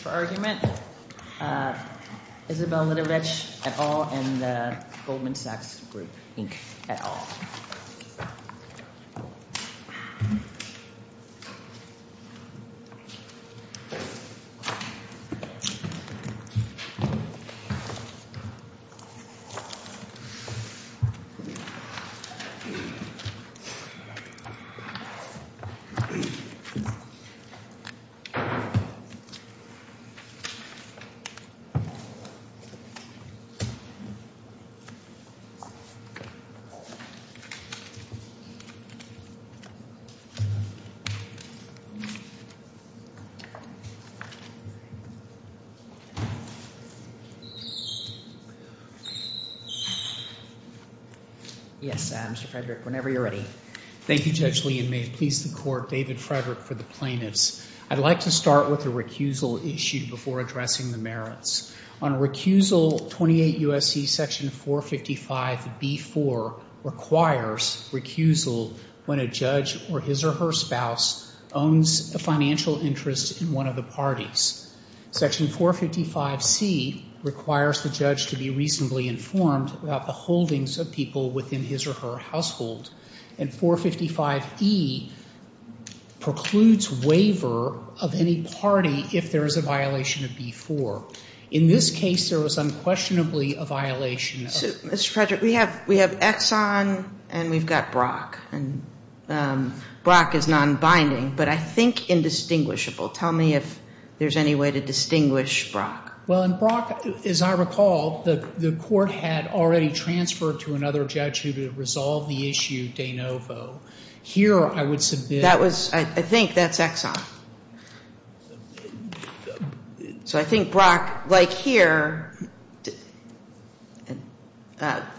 for argument, Isabel Litovich et al. and the Goldman Sachs Group Inc. et al. Yes, Mr. Frederick, whenever you're ready. Thank you, Judge Lee, and may it please the Court, David Frederick, for the plaintiffs. I'd like to start with a recusal issue before addressing the merits. On recusal, 28 U.S.C. section 455B.4 requires recusal when a judge or his or her spouse owns a financial interest in one of the parties. Section 455C requires the judge to be reasonably informed about the holdings of people within his or her household. And 455E precludes waiver of any party if there is a violation of B.4. In this case, there was unquestionably a violation. So, Mr. Frederick, we have Exxon and we've got Brock. And Brock is nonbinding, but I think indistinguishable. Tell me if there's any way to distinguish Brock. Well, in Brock, as I recall, the court had already transferred to another judge who would have resolved the issue de novo. Here, I would submit. That was, I think that's Exxon. So I think Brock, like here,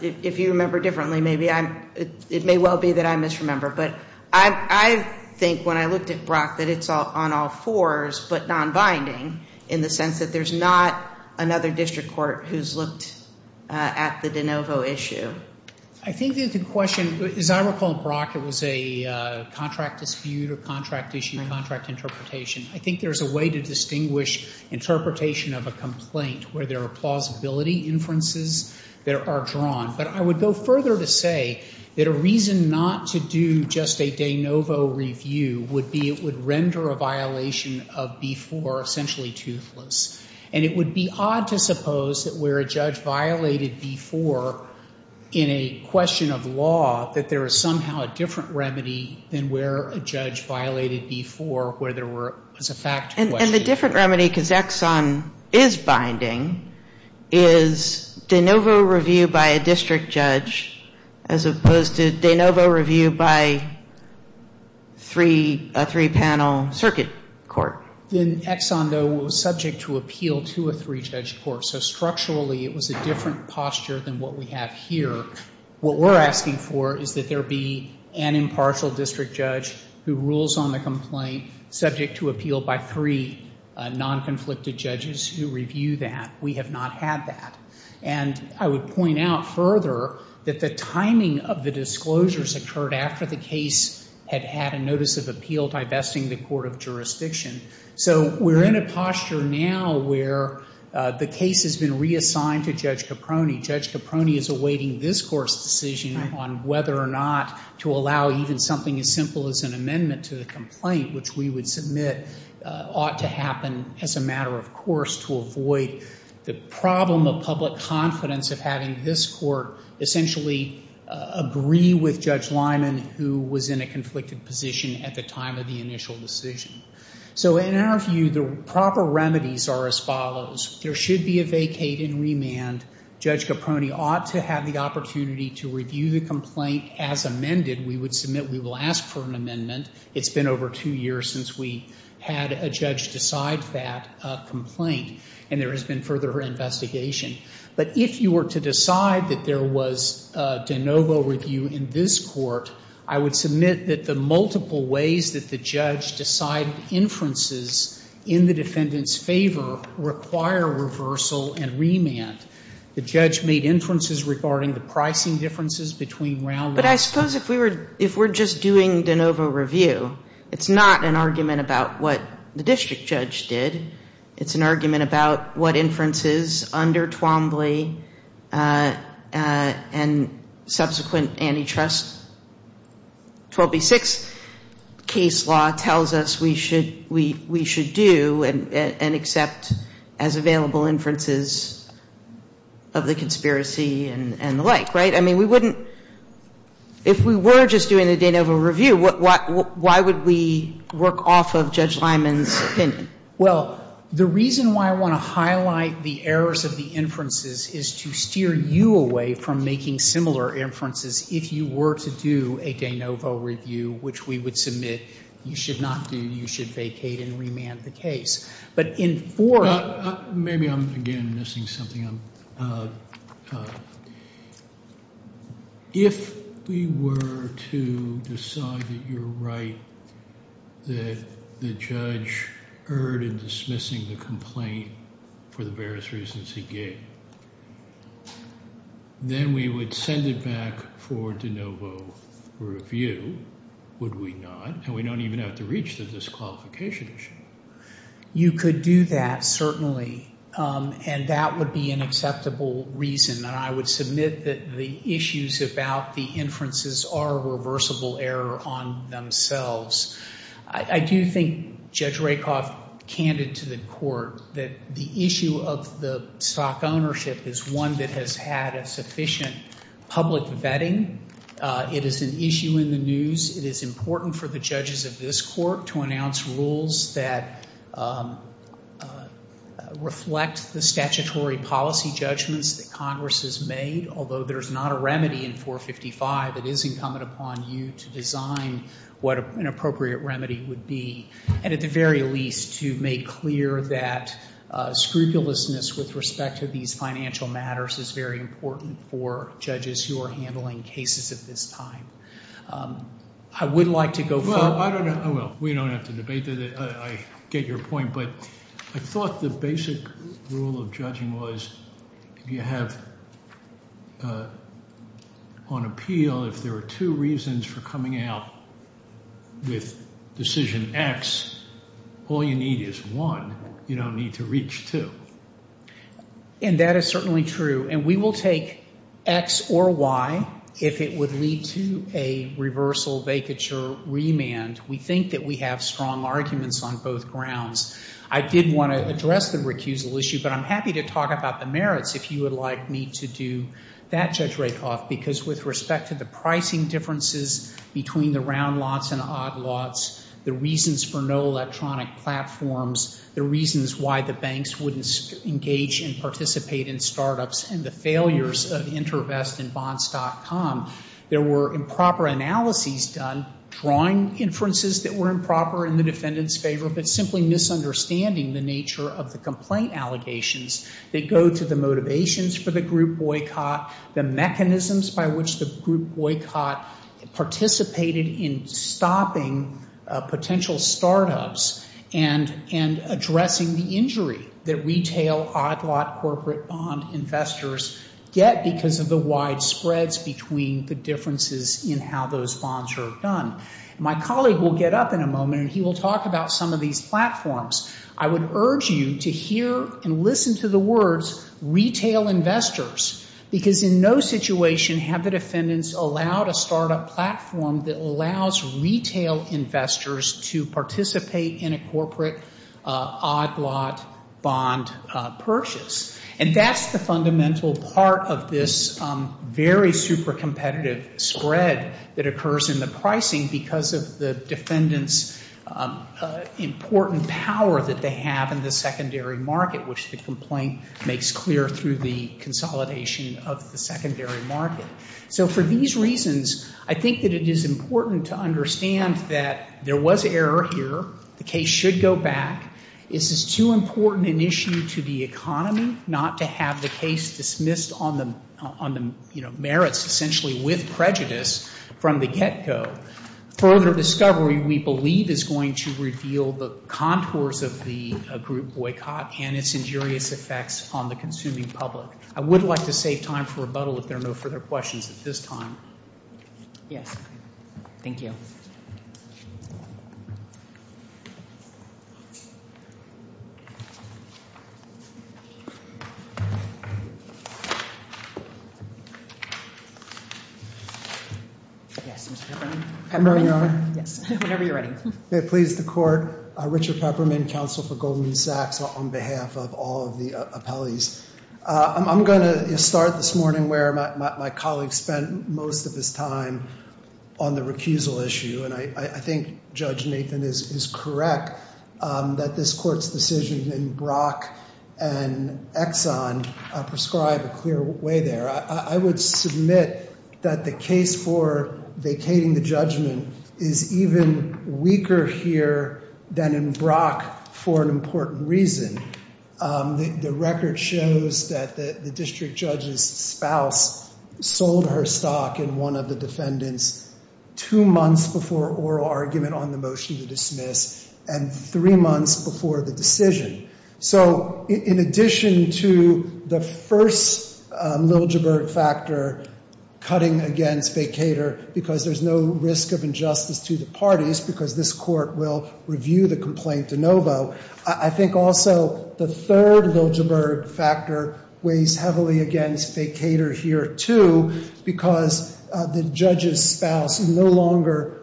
if you remember differently, maybe I'm, it may well be that I misremember. But I think when I looked at Brock, that it's on all fours, but nonbinding, in the sense that there's not another district court who's looked at the de novo issue. I think that the question, as I recall, Brock, it was a contract dispute or contract issue or contract interpretation. I think there's a way to distinguish interpretation of a complaint where there are plausibility inferences that are drawn. But I would go further to say that a reason not to do just a de novo review would be it would render a violation of B-4 essentially toothless. And it would be odd to suppose that where a judge violated B-4 in a question of law, that there is somehow a different remedy than where a judge violated B-4 where there was a fact question. And the different remedy, because Exxon is binding, is de novo review by a district judge, as opposed to de novo review by a three panel circuit court. In Exxon, though, it was subject to appeal to a three judge court. So structurally, it was a different posture than what we have here. What we're asking for is that there be an impartial district judge who rules on the complaint subject to appeal by three non-conflicted judges who review that. We have not had that. And I would point out further that the timing of the disclosures occurred after the case had had a notice of appeal divesting the court of jurisdiction. So we're in a posture now where the case has been reassigned to Judge Caproni. Judge Caproni is awaiting this court's decision on whether or not to allow even something as simple as an amendment to the complaint, which we would submit ought to happen as a matter of course, to avoid the problem of public confidence of having this court essentially agree with Judge Lyman, who was in a conflicted position at the time of the initial decision. So in our view, the proper remedies are as follows. There should be a vacate and remand. Judge Caproni ought to have the opportunity to review the complaint as amended. We would submit we will ask for an amendment. It's been over two years since we had a judge decide that complaint, and there has been further investigation. But if you were to decide that there was de novo review in this court, I would submit that the multiple ways that the judge decided inferences in the defendant's favor require reversal and remand. The judge made inferences regarding the pricing differences between round ones. But I suppose if we were just doing de novo review, it's not an argument about what the district judge did. It's an argument about what inferences under Twombly and subsequent antitrust 12B6 case law tells us we should do and accept as available inferences of the conspiracy and the like, right? I mean, we wouldn't – if we were just doing a de novo review, why would we work off of Judge Lyman's opinion? Well, the reason why I want to highlight the errors of the inferences is to steer you away from making similar inferences if you were to do a de novo review, which we would submit you should not do. You should vacate and remand the case. But in fourth – Maybe I'm, again, missing something. If we were to decide that you're right, that the judge erred in dismissing the complaint for the various reasons he gave, then we would send it back for de novo review, would we not? And we don't even have to reach the disqualification issue. You could do that, certainly, and that would be an acceptable reason. And I would submit that the issues about the inferences are a reversible error on themselves. I do think Judge Rakoff, candid to the court, that the issue of the stock ownership is one that has had a sufficient public vetting. It is an issue in the news. It is important for the judges of this court to announce rules that reflect the statutory policy judgments that Congress has made, although there's not a remedy in 455. It is incumbent upon you to design what an appropriate remedy would be, and at the very least, to make clear that scrupulousness with respect to these financial matters is very important for judges who are handling cases at this time. I would like to go further. Well, we don't have to debate that. I get your point, but I thought the basic rule of judging was if you have on appeal, if there are two reasons for coming out with decision X, all you need is one. You don't need to reach two. And that is certainly true. And we will take X or Y if it would lead to a reversal, vacature, remand. We think that we have strong arguments on both grounds. I did want to address the recusal issue, but I'm happy to talk about the merits if you would like me to do that, Judge Rakoff, because with respect to the pricing differences between the round lots and odd lots, the reasons for no electronic platforms, the reasons why the banks wouldn't engage and participate in startups, and the failures of InterVest and Bonds.com, there were improper analyses done, drawing inferences that were improper in the defendant's favor, but simply misunderstanding the nature of the complaint allegations that go to the motivations for the group boycott, the mechanisms by which the group boycott participated in stopping potential startups and addressing the injury that retail odd lot corporate bond investors get because of the wide spreads between the differences in how those bonds are done. My colleague will get up in a moment, and he will talk about some of these platforms. I would urge you to hear and listen to the words, retail investors, because in no situation have the defendants allowed a startup platform that allows retail investors to participate in a corporate odd lot bond purchase. And that's the fundamental part of this very super competitive spread that occurs in the pricing because of the defendant's important power that they have in the secondary market, which the complaint makes clear through the consolidation of the secondary market. So for these reasons, I think that it is important to understand that there was error here. The case should go back. This is too important an issue to the economy not to have the case dismissed on the merits, essentially with prejudice from the get-go. Further discovery, we believe, is going to reveal the contours of the group boycott and its injurious effects on the consuming public. I would like to save time for rebuttal if there are no further questions at this time. Yes. Thank you. Yes, Mr. Peppermint. Good morning, Your Honor. Yes, whenever you're ready. May it please the Court. Richard Peppermint, counsel for Goldman Sachs on behalf of all of the appellees. I'm going to start this morning where my colleague spent most of his time on the recusal issue, and I think Judge Nathan is correct that this Court's decision in Brock and Exxon prescribed a clear way there. I would submit that the case for vacating the judgment is even weaker here than in Brock for an important reason. The record shows that the district judge's spouse sold her stock in one of the defendants two months before oral argument on the motion to dismiss and three months before the decision. So, in addition to the first Liljeburg factor, cutting against vacater, because there's no risk of injustice to the parties because this Court will review the complaint de novo, I think also the third Liljeburg factor weighs heavily against vacater here, too, because the judge's spouse no longer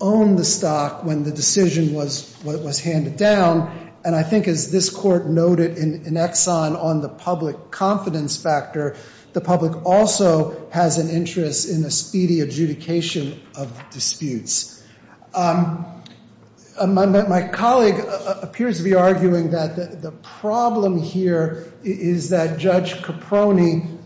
owned the stock when the decision was handed down, and I think as this Court noted in Exxon on the public confidence factor, the public also has an interest in a speedy adjudication of disputes. My colleague appears to be arguing that the problem here is that Judge Caproni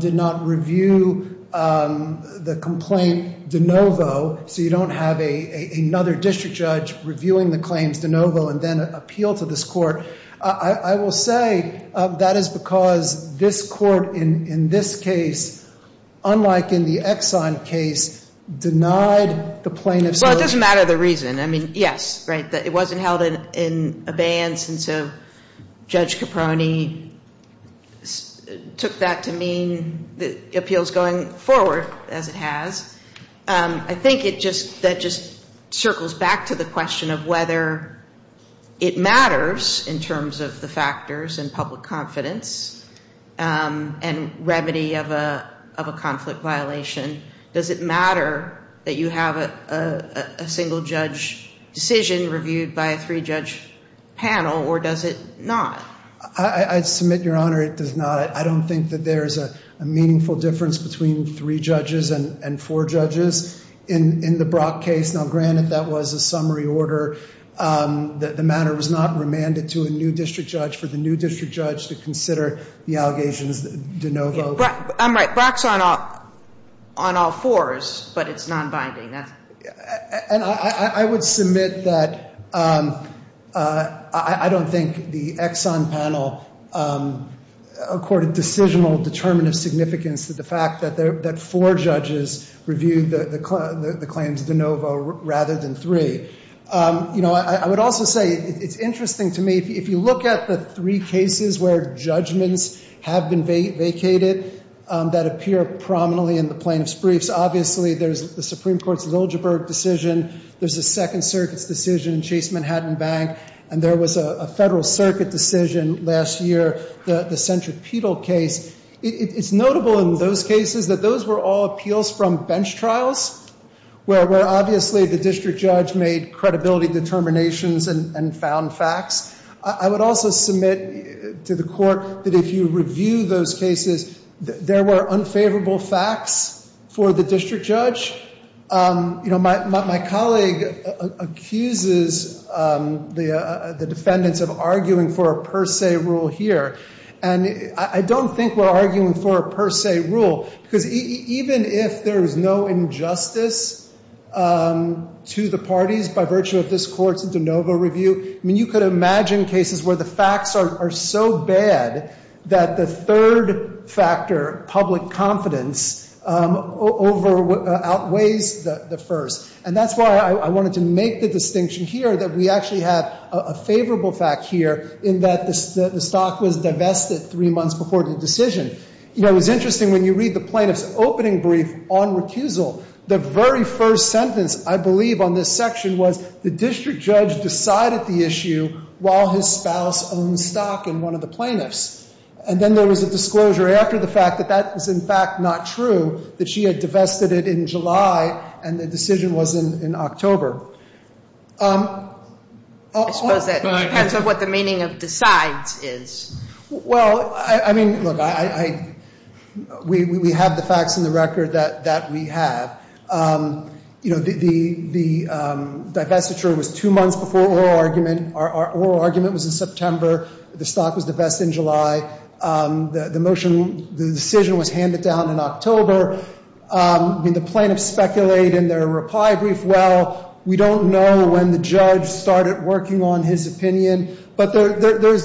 did not review the complaint de novo so you don't have another district judge reviewing the claims de novo and then appeal to this Court. I will say that is because this Court in this case, unlike in the Exxon case, denied the plaintiff's motive. Well, it doesn't matter the reason. I mean, yes, right, it wasn't held in abeyance, and so Judge Caproni took that to mean appeals going forward, as it has. I think that just circles back to the question of whether it matters in terms of the factors in public confidence and remedy of a conflict violation. Does it matter that you have a single-judge decision reviewed by a three-judge panel, or does it not? I submit, Your Honor, it does not. I don't think that there is a meaningful difference between three judges and four judges in the Brock case. Now, granted, that was a summary order. The matter was not remanded to a new district judge for the new district judge to consider the allegations de novo. I'm right. Brock's on all fours, but it's nonbinding. And I would submit that I don't think the Exxon panel accorded decisional, determinative significance to the fact that four judges reviewed the claims de novo rather than three. You know, I would also say it's interesting to me, if you look at the three cases where judgments have been vacated that appear prominently in the plaintiff's briefs, obviously there's the Supreme Court's Liljeburg decision, there's the Second Circuit's decision in Chase Manhattan Bank, and there was a Federal Circuit decision last year, the Centripetal case. It's notable in those cases that those were all appeals from bench trials, where obviously the district judge made credibility determinations and found facts. I would also submit to the Court that if you review those cases, there were unfavorable facts for the district judge. You know, my colleague accuses the defendants of arguing for a per se rule here. And I don't think we're arguing for a per se rule, because even if there is no injustice to the parties by virtue of this Court's de novo review, I mean, you could imagine cases where the facts are so bad that the third factor, public confidence, outweighs the first. And that's why I wanted to make the distinction here that we actually have a favorable fact here in that the stock was divested three months before the decision. You know, it was interesting when you read the plaintiff's opening brief on recusal, the very first sentence, I believe, on this section was, the district judge decided the issue while his spouse owned stock in one of the plaintiffs. And then there was a disclosure after the fact that that was in fact not true, that she had divested it in July and the decision was in October. I suppose that depends on what the meaning of decides is. Well, I mean, look, we have the facts in the record that we have. You know, the divestiture was two months before oral argument. Our oral argument was in September. The stock was divested in July. The decision was handed down in October. I mean, the plaintiffs speculate in their reply brief, well, we don't know when the judge started working on his opinion. But there's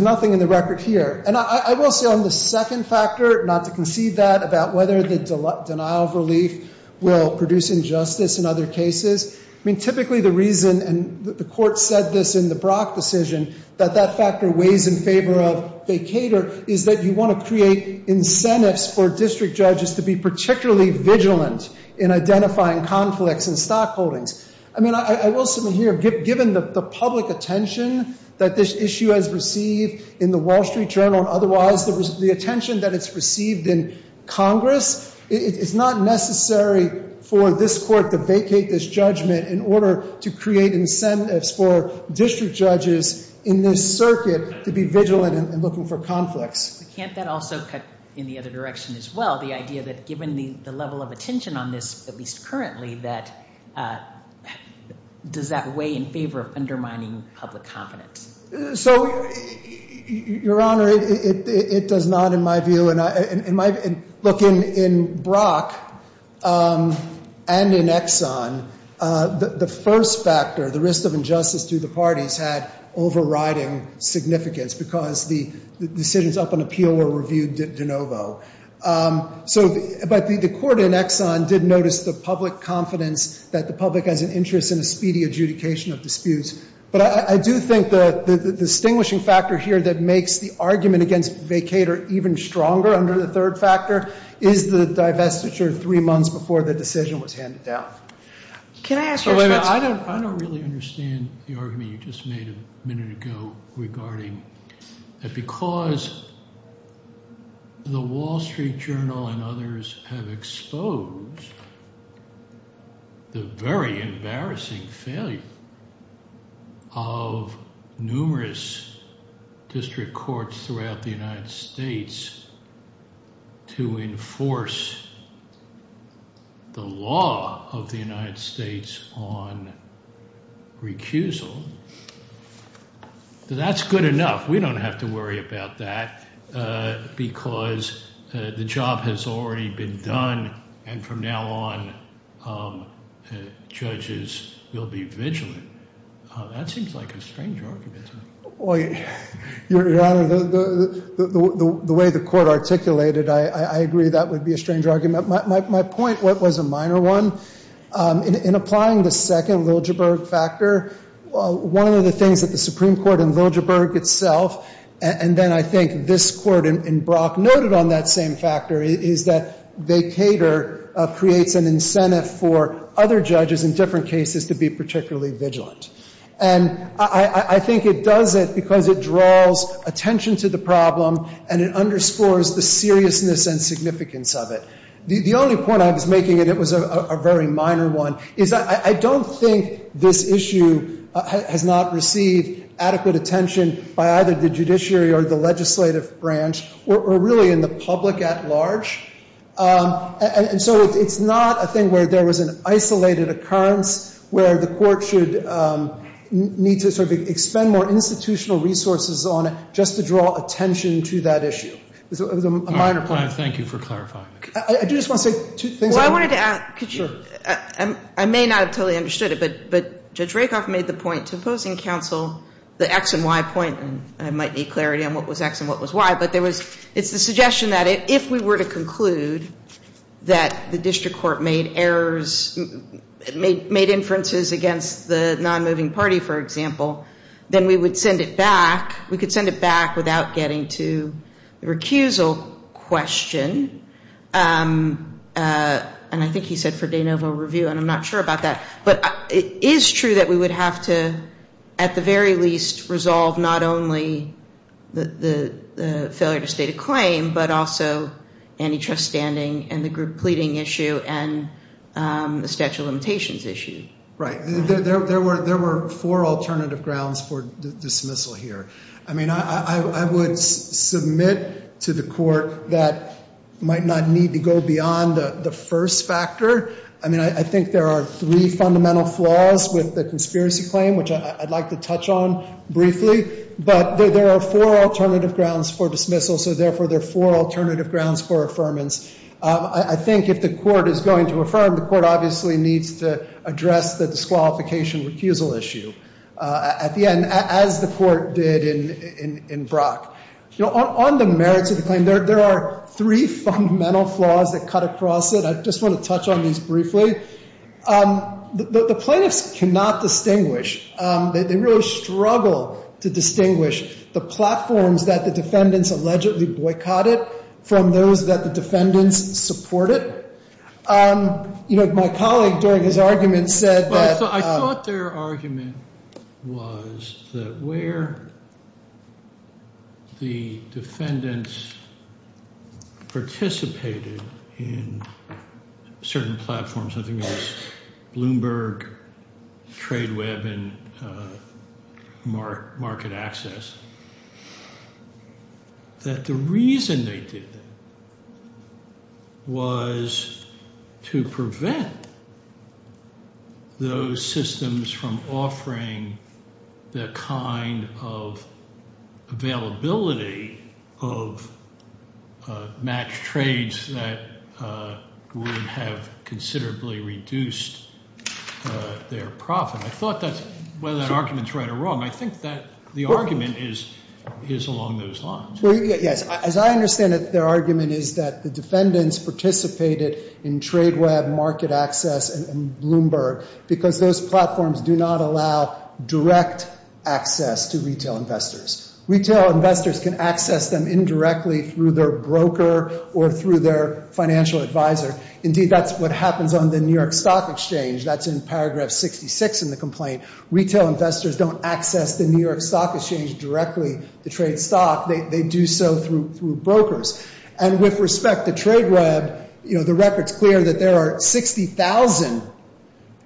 nothing in the record here. And I will say on the second factor, not to concede that, about whether the denial of relief will produce injustice in other cases, I mean, typically the reason, and the court said this in the Brock decision, that that factor weighs in favor of vacator is that you want to create incentives for district judges to be particularly vigilant in identifying conflicts in stock holdings. I mean, I will submit here, given the public attention that this issue has received in the Wall Street Journal and otherwise, the attention that it's received in Congress, it's not necessary for this court to vacate this judgment in order to create incentives for district judges in this circuit to be vigilant in looking for conflicts. Can't that also cut in the other direction as well, the idea that given the level of attention on this, at least currently, that does that weigh in favor of undermining public confidence? So, Your Honor, it does not in my view. Look, in Brock and in Exxon, the first factor, the risk of injustice to the parties had overriding significance because the decisions up in appeal were reviewed de novo. So, but the court in Exxon did notice the public confidence that the public has an interest in a speedy adjudication of disputes. But I do think the distinguishing factor here that makes the argument against vacator even stronger under the third factor is the divestiture three months before the decision was handed down. Can I ask you a question? I don't really understand the argument you just made a minute ago regarding that because the Wall Street Journal and others have exposed the very embarrassing failure of numerous district courts throughout the United States to enforce the law of the United States on recusal. That's good enough. We don't have to worry about that because the job has already been done and from now on judges will be vigilant. That seems like a strange argument. Well, Your Honor, the way the court articulated, I agree that would be a strange argument. My point was a minor one. In applying the second Liljeburg factor, one of the things that the Supreme Court in Liljeburg itself and then I think this court in Brock noted on that same factor is that vacator creates an incentive for other judges in different cases to be particularly vigilant. And I think it does it because it draws attention to the problem and it underscores the seriousness and significance of it. The only point I was making and it was a very minor one is that I don't think this issue has not received adequate attention by either the judiciary or the legislative branch or really in the public at large. And so it's not a thing where there was an isolated occurrence where the court should need to sort of expend more institutional resources on it just to draw attention to that issue. It was a minor point. Thank you for clarifying. I do just want to say two things. Well, I wanted to add. I may not have totally understood it, but Judge Rakoff made the point to opposing counsel, the X and Y point, and I might need clarity on what was X and what was Y, but it's the suggestion that if we were to conclude that the district court made errors, made inferences against the non-moving party, for example, then we would send it back. Without getting to the recusal question, and I think he said for de novo review and I'm not sure about that, but it is true that we would have to at the very least resolve not only the failure to state a claim, but also antitrust standing and the group pleading issue and the statute of limitations issue. Right. There were four alternative grounds for dismissal here. I mean, I would submit to the court that might not need to go beyond the first factor. I mean, I think there are three fundamental flaws with the conspiracy claim, which I'd like to touch on briefly, but there are four alternative grounds for dismissal, so therefore there are four alternative grounds for affirmance. I think if the court is going to affirm, the court obviously needs to address the disqualification recusal issue. At the end, as the court did in Brock. On the merits of the claim, there are three fundamental flaws that cut across it. I just want to touch on these briefly. The plaintiffs cannot distinguish. They really struggle to distinguish the platforms that the defendants allegedly boycotted from those that the defendants supported. My colleague during his argument said that I thought their argument was that where the defendants participated in certain platforms, I think it was Bloomberg, TradeWeb, and Market Access, that the reason they did that was to prevent those systems from offering the kind of availability of matched trades that would have considerably reduced their profit. I thought that's whether that argument is right or wrong. I think that the argument is along those lines. Yes. As I understand it, their argument is that the defendants participated in TradeWeb, Market Access, and Bloomberg because those platforms do not allow direct access to retail investors. Retail investors can access them indirectly through their broker or through their financial advisor. Indeed, that's what happens on the New York Stock Exchange. That's in paragraph 66 in the complaint. Retail investors don't access the New York Stock Exchange directly, the trade stock. They do so through brokers. With respect to TradeWeb, the record's clear that there are 60,000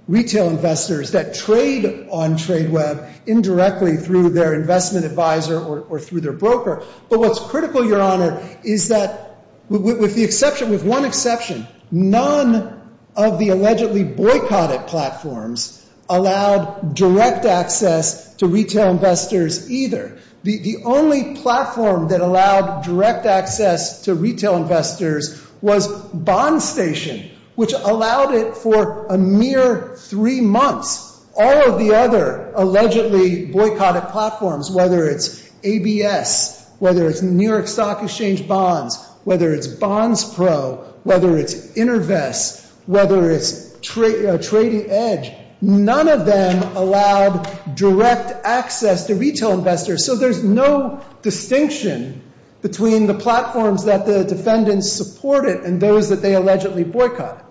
retail investors that trade on TradeWeb indirectly through their investment advisor or through their broker. But what's critical, Your Honor, is that with one exception, none of the allegedly boycotted platforms allowed direct access to retail investors either. The only platform that allowed direct access to retail investors was BondStation, which allowed it for a mere three months. All of the other allegedly boycotted platforms, whether it's ABS, whether it's New York Stock Exchange Bonds, whether it's BondsPro, whether it's InterVest, whether it's TradingEdge, none of them allowed direct access to retail investors. So there's no distinction between the platforms that the defendants supported and those that they allegedly boycotted.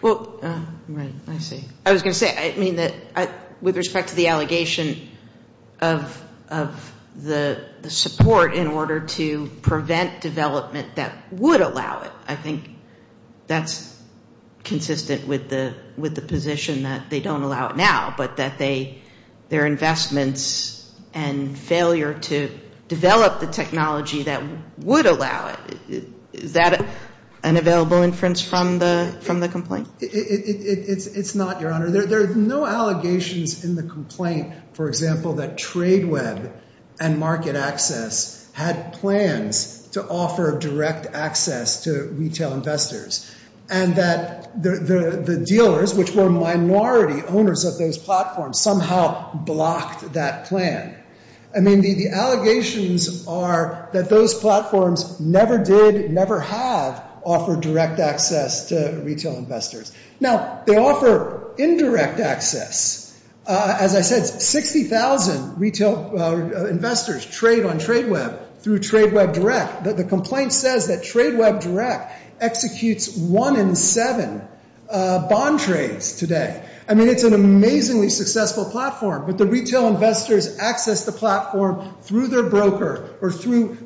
Well, right, I see. I was going to say, I mean, with respect to the allegation of the support in order to prevent development that would allow it, I think that's consistent with the position that they don't allow it now, but that their investments and failure to develop the technology that would allow it, is that an available inference from the complaint? It's not, Your Honor. There are no allegations in the complaint, for example, that TradeWeb and Market Access had plans to offer direct access to retail investors and that the dealers, which were minority owners of those platforms, somehow blocked that plan. I mean, the allegations are that those platforms never did, never have offered direct access to retail investors. Now, they offer indirect access. As I said, 60,000 retail investors trade on TradeWeb through TradeWeb Direct. The complaint says that TradeWeb Direct executes one in seven bond trades today. I mean, it's an amazingly successful platform, but the retail investors access the platform through their broker or through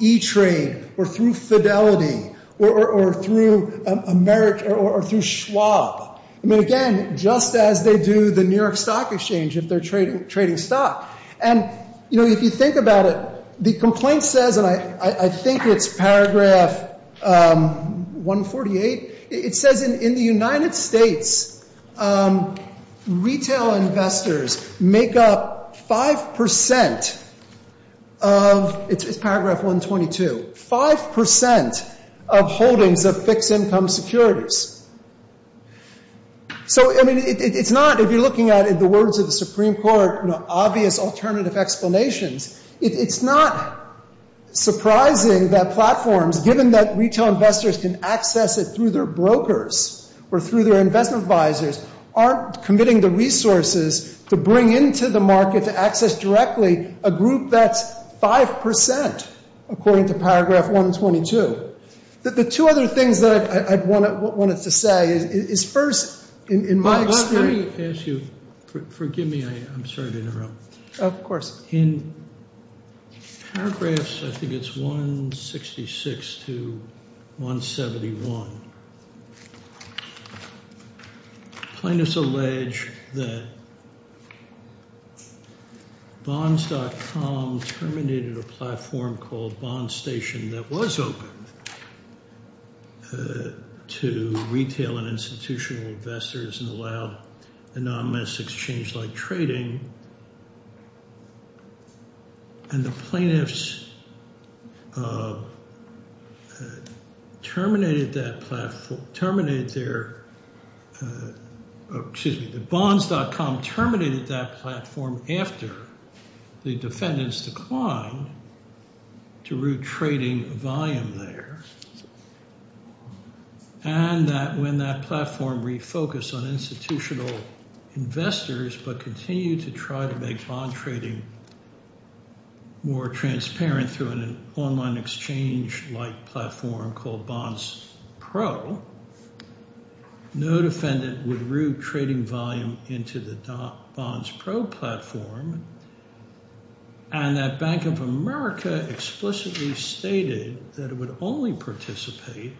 E-Trade or through Fidelity or through Schwab. I mean, again, just as they do the New York Stock Exchange if they're trading stock. And, you know, if you think about it, the complaint says, and I think it's paragraph 148, it says in the United States, retail investors make up 5% of, it's paragraph 122, 5% of holdings of fixed income securities. So, I mean, it's not, if you're looking at it, the words of the Supreme Court, obvious alternative explanations, it's not surprising that platforms, given that retail investors can access it through their brokers or through their investment advisors, aren't committing the resources to bring into the market to access directly a group that's 5%, according to paragraph 122. The two other things that I wanted to say is, first, in my experience. Let me ask you, forgive me, I'm sorry to interrupt. Of course. In paragraphs, I think it's 166 to 171, plaintiffs allege that bonds.com terminated a platform called Bonds Station that was open to retail and institutional investors and allowed anonymous exchange-like trading, and the plaintiffs terminated that platform, terminated their, excuse me, that bonds.com terminated that platform after the defendants declined to route trading volume there, and that when that platform refocused on institutional investors but continued to try to make bond trading more transparent through an online exchange-like platform called Bonds Pro, no defendant would route trading volume into the Bonds Pro platform, and that Bank of America explicitly stated that it would only participate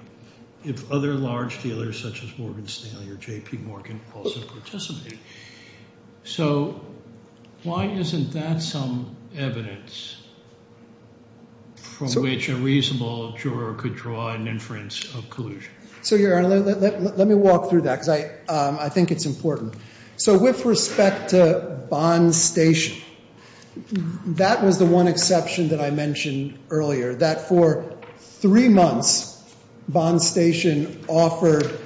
if other large dealers such as Morgan Stanley or J.P. Morgan also participated. So why isn't that some evidence from which a reasonable juror could draw an inference of collusion? So, Your Honor, let me walk through that because I think it's important. So with respect to Bonds Station, that was the one exception that I mentioned earlier, that for three months, Bonds Station offered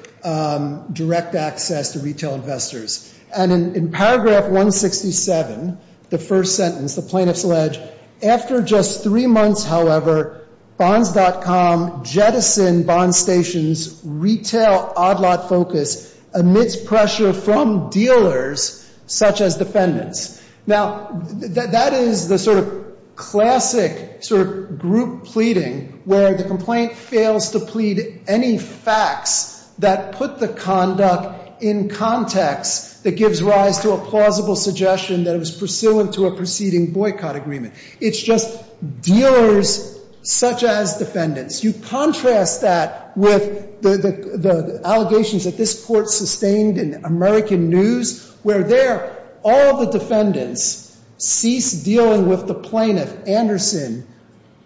direct access to retail investors. And in paragraph 167, the first sentence, the plaintiffs allege, after just three months, however, Bonds.com jettisoned Bonds Station's retail oddlot focus amidst pressure from dealers such as defendants. Now, that is the sort of classic sort of group pleading where the complaint fails to plead any facts that put the conduct in context that gives rise to a plausible suggestion that it was pursuant to a preceding boycott agreement. It's just dealers such as defendants. You contrast that with the allegations that this Court sustained in American News where there all the defendants ceased dealing with the plaintiff, Anderson,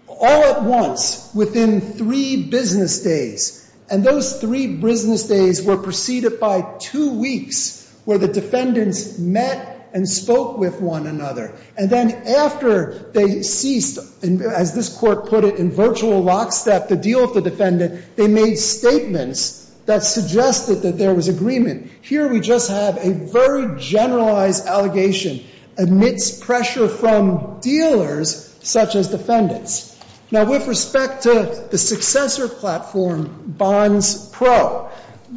all at once within three business days. And those three business days were preceded by two weeks where the defendants met and spoke with one another. And then after they ceased, as this Court put it, in virtual lockstep, the deal with the defendant, they made statements that suggested that there was agreement. Here we just have a very generalized allegation amidst pressure from dealers such as defendants. Now, with respect to the successor platform, Bonds Pro,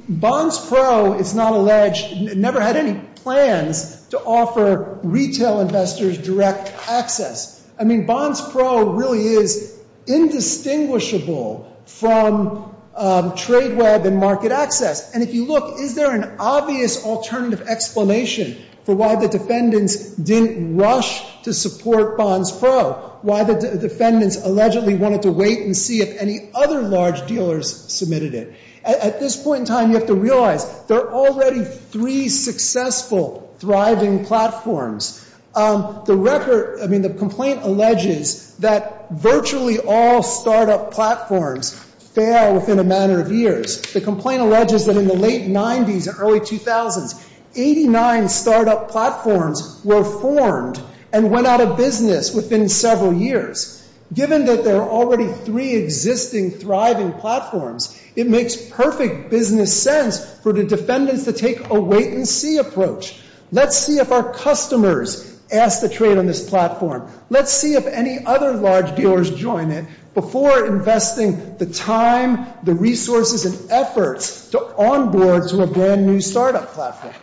Bonds Pro, it's not alleged, never had any plans to offer retail investors direct access. I mean, Bonds Pro really is indistinguishable from TradeWeb and MarketAccess. And if you look, is there an obvious alternative explanation for why the defendants didn't rush to support Bonds Pro? Why the defendants allegedly wanted to wait and see if any other large dealers submitted it? At this point in time, you have to realize there are already three successful thriving platforms. The complaint alleges that virtually all startup platforms fail within a matter of years. The complaint alleges that in the late 90s and early 2000s, 89 startup platforms were formed and went out of business within several years. Given that there are already three existing thriving platforms, it makes perfect business sense for the defendants to take a wait-and-see approach. Let's see if our customers ask to trade on this platform. Let's see if any other large dealers join it before investing the time, the resources, and efforts to onboard to a brand-new startup platform.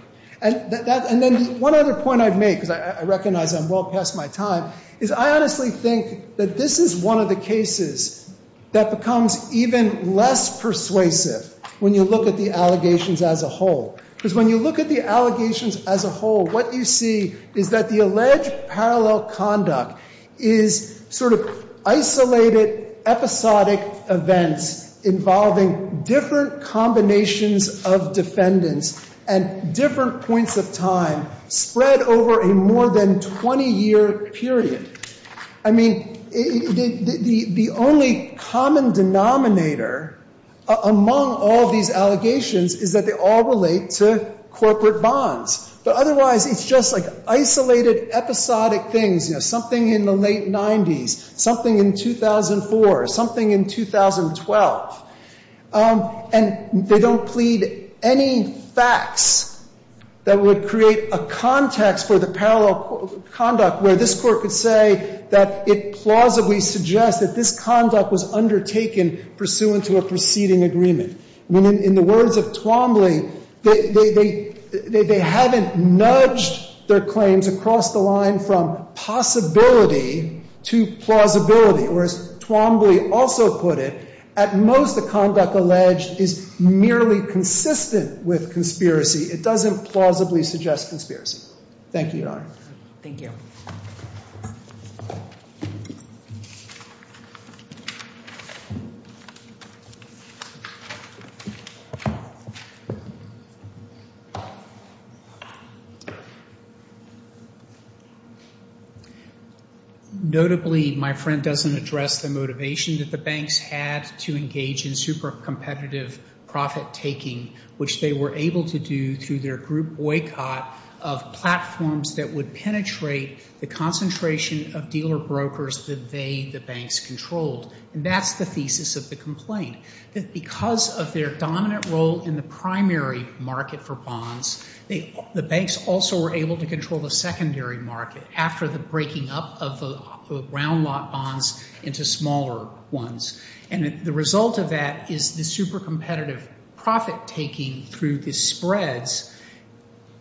And then one other point I'd make, because I recognize I'm well past my time, is I honestly think that this is one of the cases that becomes even less persuasive when you look at the allegations as a whole. Because when you look at the allegations as a whole, what you see is that the alleged parallel conduct is sort of isolated, episodic events involving different combinations of defendants at different points of time spread over a more than 20-year period. I mean, the only common denominator among all these allegations is that they all relate to corporate bonds. But otherwise, it's just like isolated, episodic things, you know, something in the late 90s, something in 2004, something in 2012. And they don't plead any facts that would create a context for the parallel conduct where this court could say that it plausibly suggests that this conduct was undertaken pursuant to a preceding agreement. I mean, in the words of Twombly, they haven't nudged their claims across the line from possibility to plausibility. Or as Twombly also put it, at most, the conduct alleged It doesn't plausibly suggest conspiracy. Thank you, Your Honor. Thank you. Notably, my friend doesn't address the motivation that the banks had to engage in super-competitive profit-taking, which they were able to do through their group boycott of platforms that would penetrate the concentration of dealer-brokers that they, the banks, controlled. And that's the thesis of the complaint, that because of their dominant role in the primary market for bonds, the banks also were able to control the secondary market after the breaking up of the round-lot bonds into smaller ones. And the result of that is the super-competitive profit-taking through the spreads.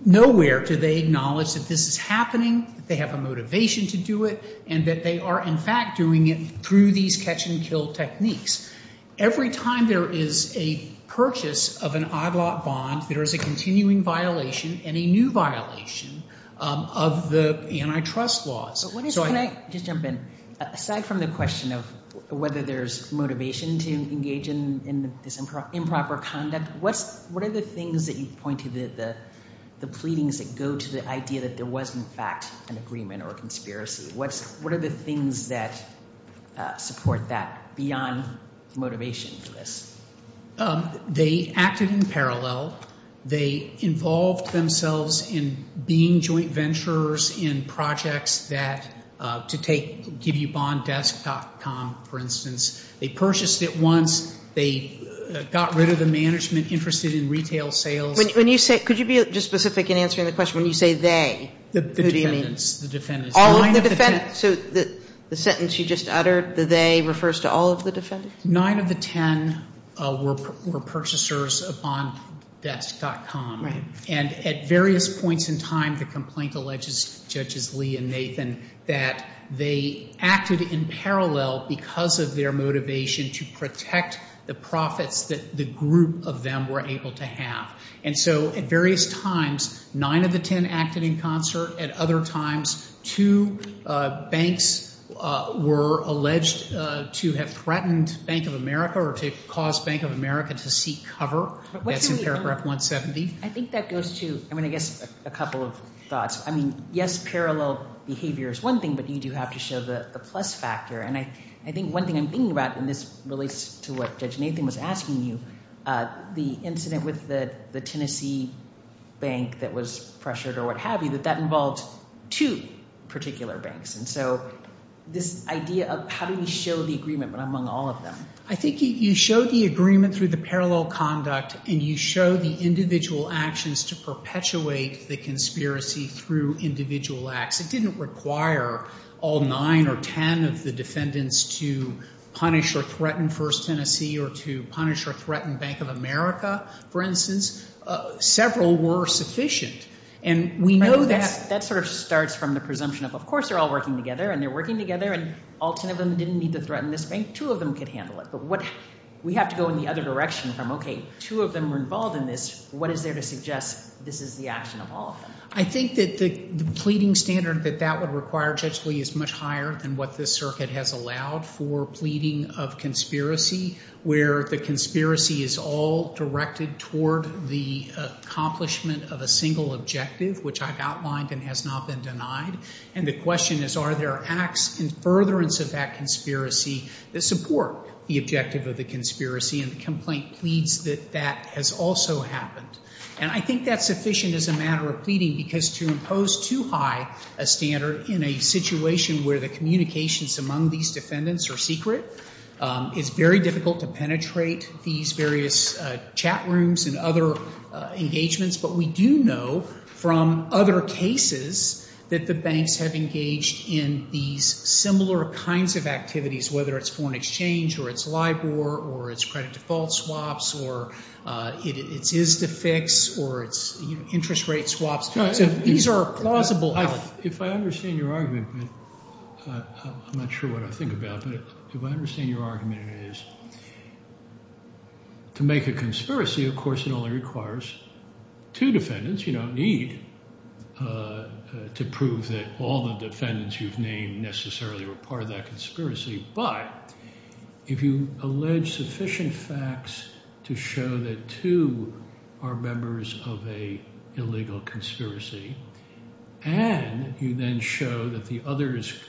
Nowhere do they acknowledge that this is happening, they have a motivation to do it, and that they are, in fact, doing it through these catch-and-kill techniques. Every time there is a purchase of an odd-lot bond, there is a continuing violation and a new violation of the antitrust laws. Can I just jump in? Aside from the question of whether there's motivation to engage in this improper conduct, what are the things that you point to, the pleadings that go to the idea that there was, in fact, an agreement or a conspiracy? What are the things that support that beyond motivation for this? They acted in parallel. They involved themselves in being joint venturers in projects that, to give you bonddesk.com, for instance, they purchased it once, they got rid of the management interested in retail sales. Could you be just specific in answering the question, when you say they, who do you mean? The defendants. So the sentence you just uttered, the they, refers to all of the defendants? Nine of the ten were purchasers of bonddesk.com. And at various points in time, the complaint alleges, Judges Lee and Nathan, that they acted in parallel because of their motivation to protect the profits that the group of them were able to have. And so at various times, nine of the ten acted in concert. At other times, two banks were alleged to have threatened Bank of America or to cause Bank of America to seek cover. That's in paragraph 170. I think that goes to, I mean, I guess a couple of thoughts. I mean, yes, parallel behavior is one thing, but you do have to show the plus factor. And I think one thing I'm thinking about and this relates to what Judge Nathan was asking you, the incident with the Tennessee bank that was pressured or what have you, that that involved two particular banks. And so this idea of how do we show the agreement among all of them? I think you show the agreement through the parallel conduct and you show the individual actions to perpetuate the conspiracy through individual acts. It didn't require all nine or ten of the defendants to punish or threaten First Tennessee or to punish or threaten Bank of America, for instance. Several were sufficient. And we know that's... That sort of starts from the presumption of, of course, they're all working together and they're working together and all ten of them didn't need to threaten this bank. Two of them could handle it. But what... We have to go in the other direction from, okay, two of them were involved in this. What is there to suggest this is the action of all of them? I think that the pleading standard that that would require, Judge Lee, is much higher than what this circuit has allowed for pleading of conspiracy, where the conspiracy is all directed toward the accomplishment of a single objective, which I've outlined and has not been denied. And the question is, are there acts in furtherance of that conspiracy that support the objective of the conspiracy and the complaint pleads that that has also happened? And I think that's sufficient as a matter of pleading because to impose too high a standard in a situation where the communications among these defendants are secret, it's very difficult to penetrate these various chat rooms and other engagements. But we do know from other cases that the banks have engaged in these similar kinds of activities, whether it's foreign exchange or it's LIBOR or it's credit default swaps or it's ISDA fix or it's interest rate swaps. These are plausible... If I understand your argument, I'm not sure what I think about, but if I understand your argument, it is to make a conspiracy, of course, it only requires two defendants. You don't need to prove that all the defendants you've named necessarily were part of that conspiracy. But if you allege sufficient facts to show that two are members of an illegal conspiracy and you then show that the others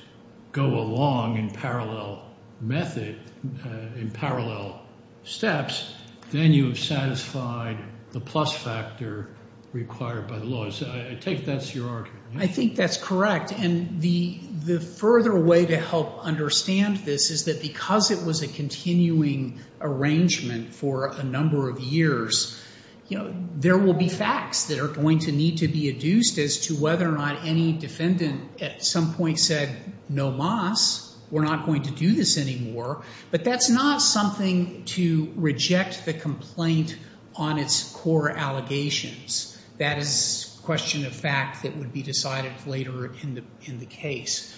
go along in parallel method, in parallel steps, then you have satisfied the plus factor required by the law. I take that's your argument. I think that's correct. And the further way to help understand this is that because it was a continuing arrangement for a number of years, there will be facts that are going to need to be adduced as to whether or not any defendant at some point said, no mas, we're not going to do this anymore. But that's not something to reject the complaint on its core allegations. That is a question of fact that would be decided later in the case.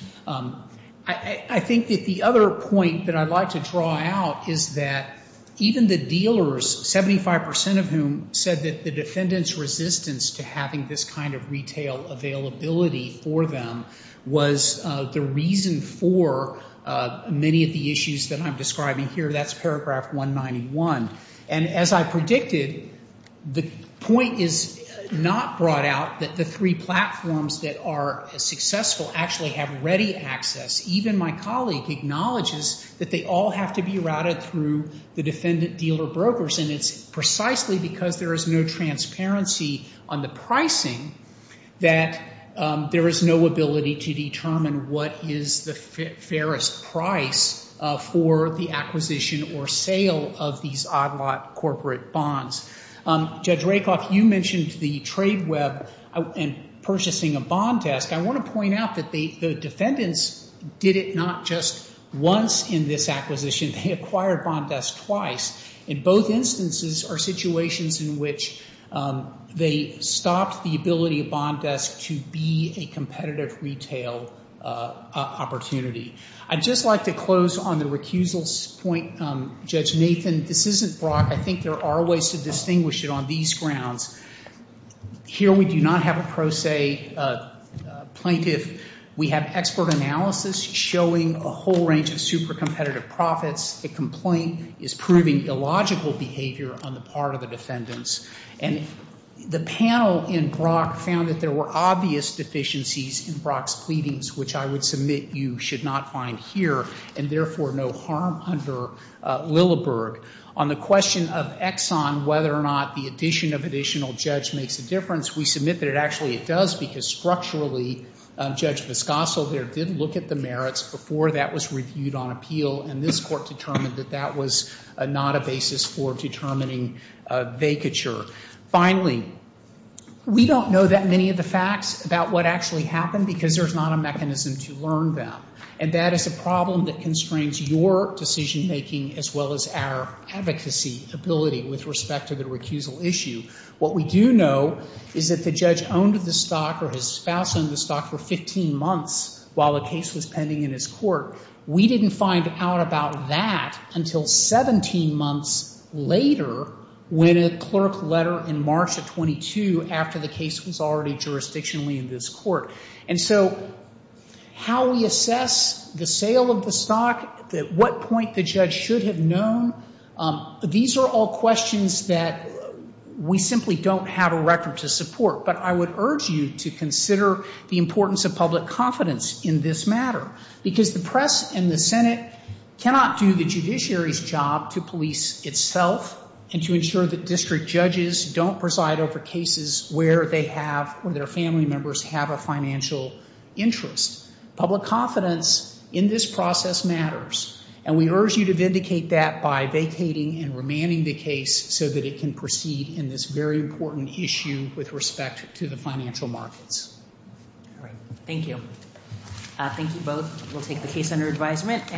I think that the other point that I'd like to draw out is that even the dealers, 75% of whom said that the defendant's resistance to having this kind of retail availability for them was the reason for many of the issues that I'm describing here. That's paragraph 191. And as I predicted, the point is not brought out that the three platforms that are successful actually have ready access. Even my colleague acknowledges that they all have to be routed through the defendant-dealer brokers. And it's precisely because there is no transparency on the pricing that there is no ability to determine what is the fairest price for the acquisition or sale of these odd-lot corporate bonds. Judge Rakoff, you mentioned the trade web and purchasing a bond test. I want to point out that the defendants did it not just once in this acquisition. They acquired bond desk twice. In both instances are situations in which they stopped the ability of bond desk to be a competitive retail opportunity. I'd just like to close on the recusal point. Judge Nathan, this isn't Brock. I think there are ways to distinguish it on these grounds. Here we do not have a pro se plaintiff. We have expert analysis showing a whole range of super competitive profits. The complaint is proving illogical behavior on the part of the defendants. And the panel in Brock found that there were obvious deficiencies in Brock's pleadings, which I would submit you should not find here and therefore no harm under Lilleberg. On the question of Exxon, whether or not the addition of additional judge makes a difference, we submit that actually it does because structurally Judge Viscoso there did look at the merits before that was reviewed on appeal and this court determined that that was not a basis for determining vacature. Finally, we don't know that many of the facts about what actually happened because there's not a mechanism to learn them. And that is a problem that constrains your decision making as well as our advocacy ability with respect to the recusal issue. What we do know is that the judge owned the stock or his spouse owned the stock for 15 months while the case was pending in his court. We didn't find out about that until 17 months later when a clerk letter in March of 22 after the case was already jurisdictionally in this court. And so how we assess the sale of the stock, at what point the judge should have known, these are all questions that we simply don't have a record to support. But I would urge you to consider the importance of public confidence in this matter because the press and the Senate cannot do the judiciary's job to police itself and to ensure that district judges don't preside over cases where they have, where their family members have a financial interest. Public confidence in this process matters and we urge you to vindicate that by vacating and remanding the case so that it can proceed in this very important issue with respect to the financial markets. Thank you. Thank you both. We'll take the case under advisement.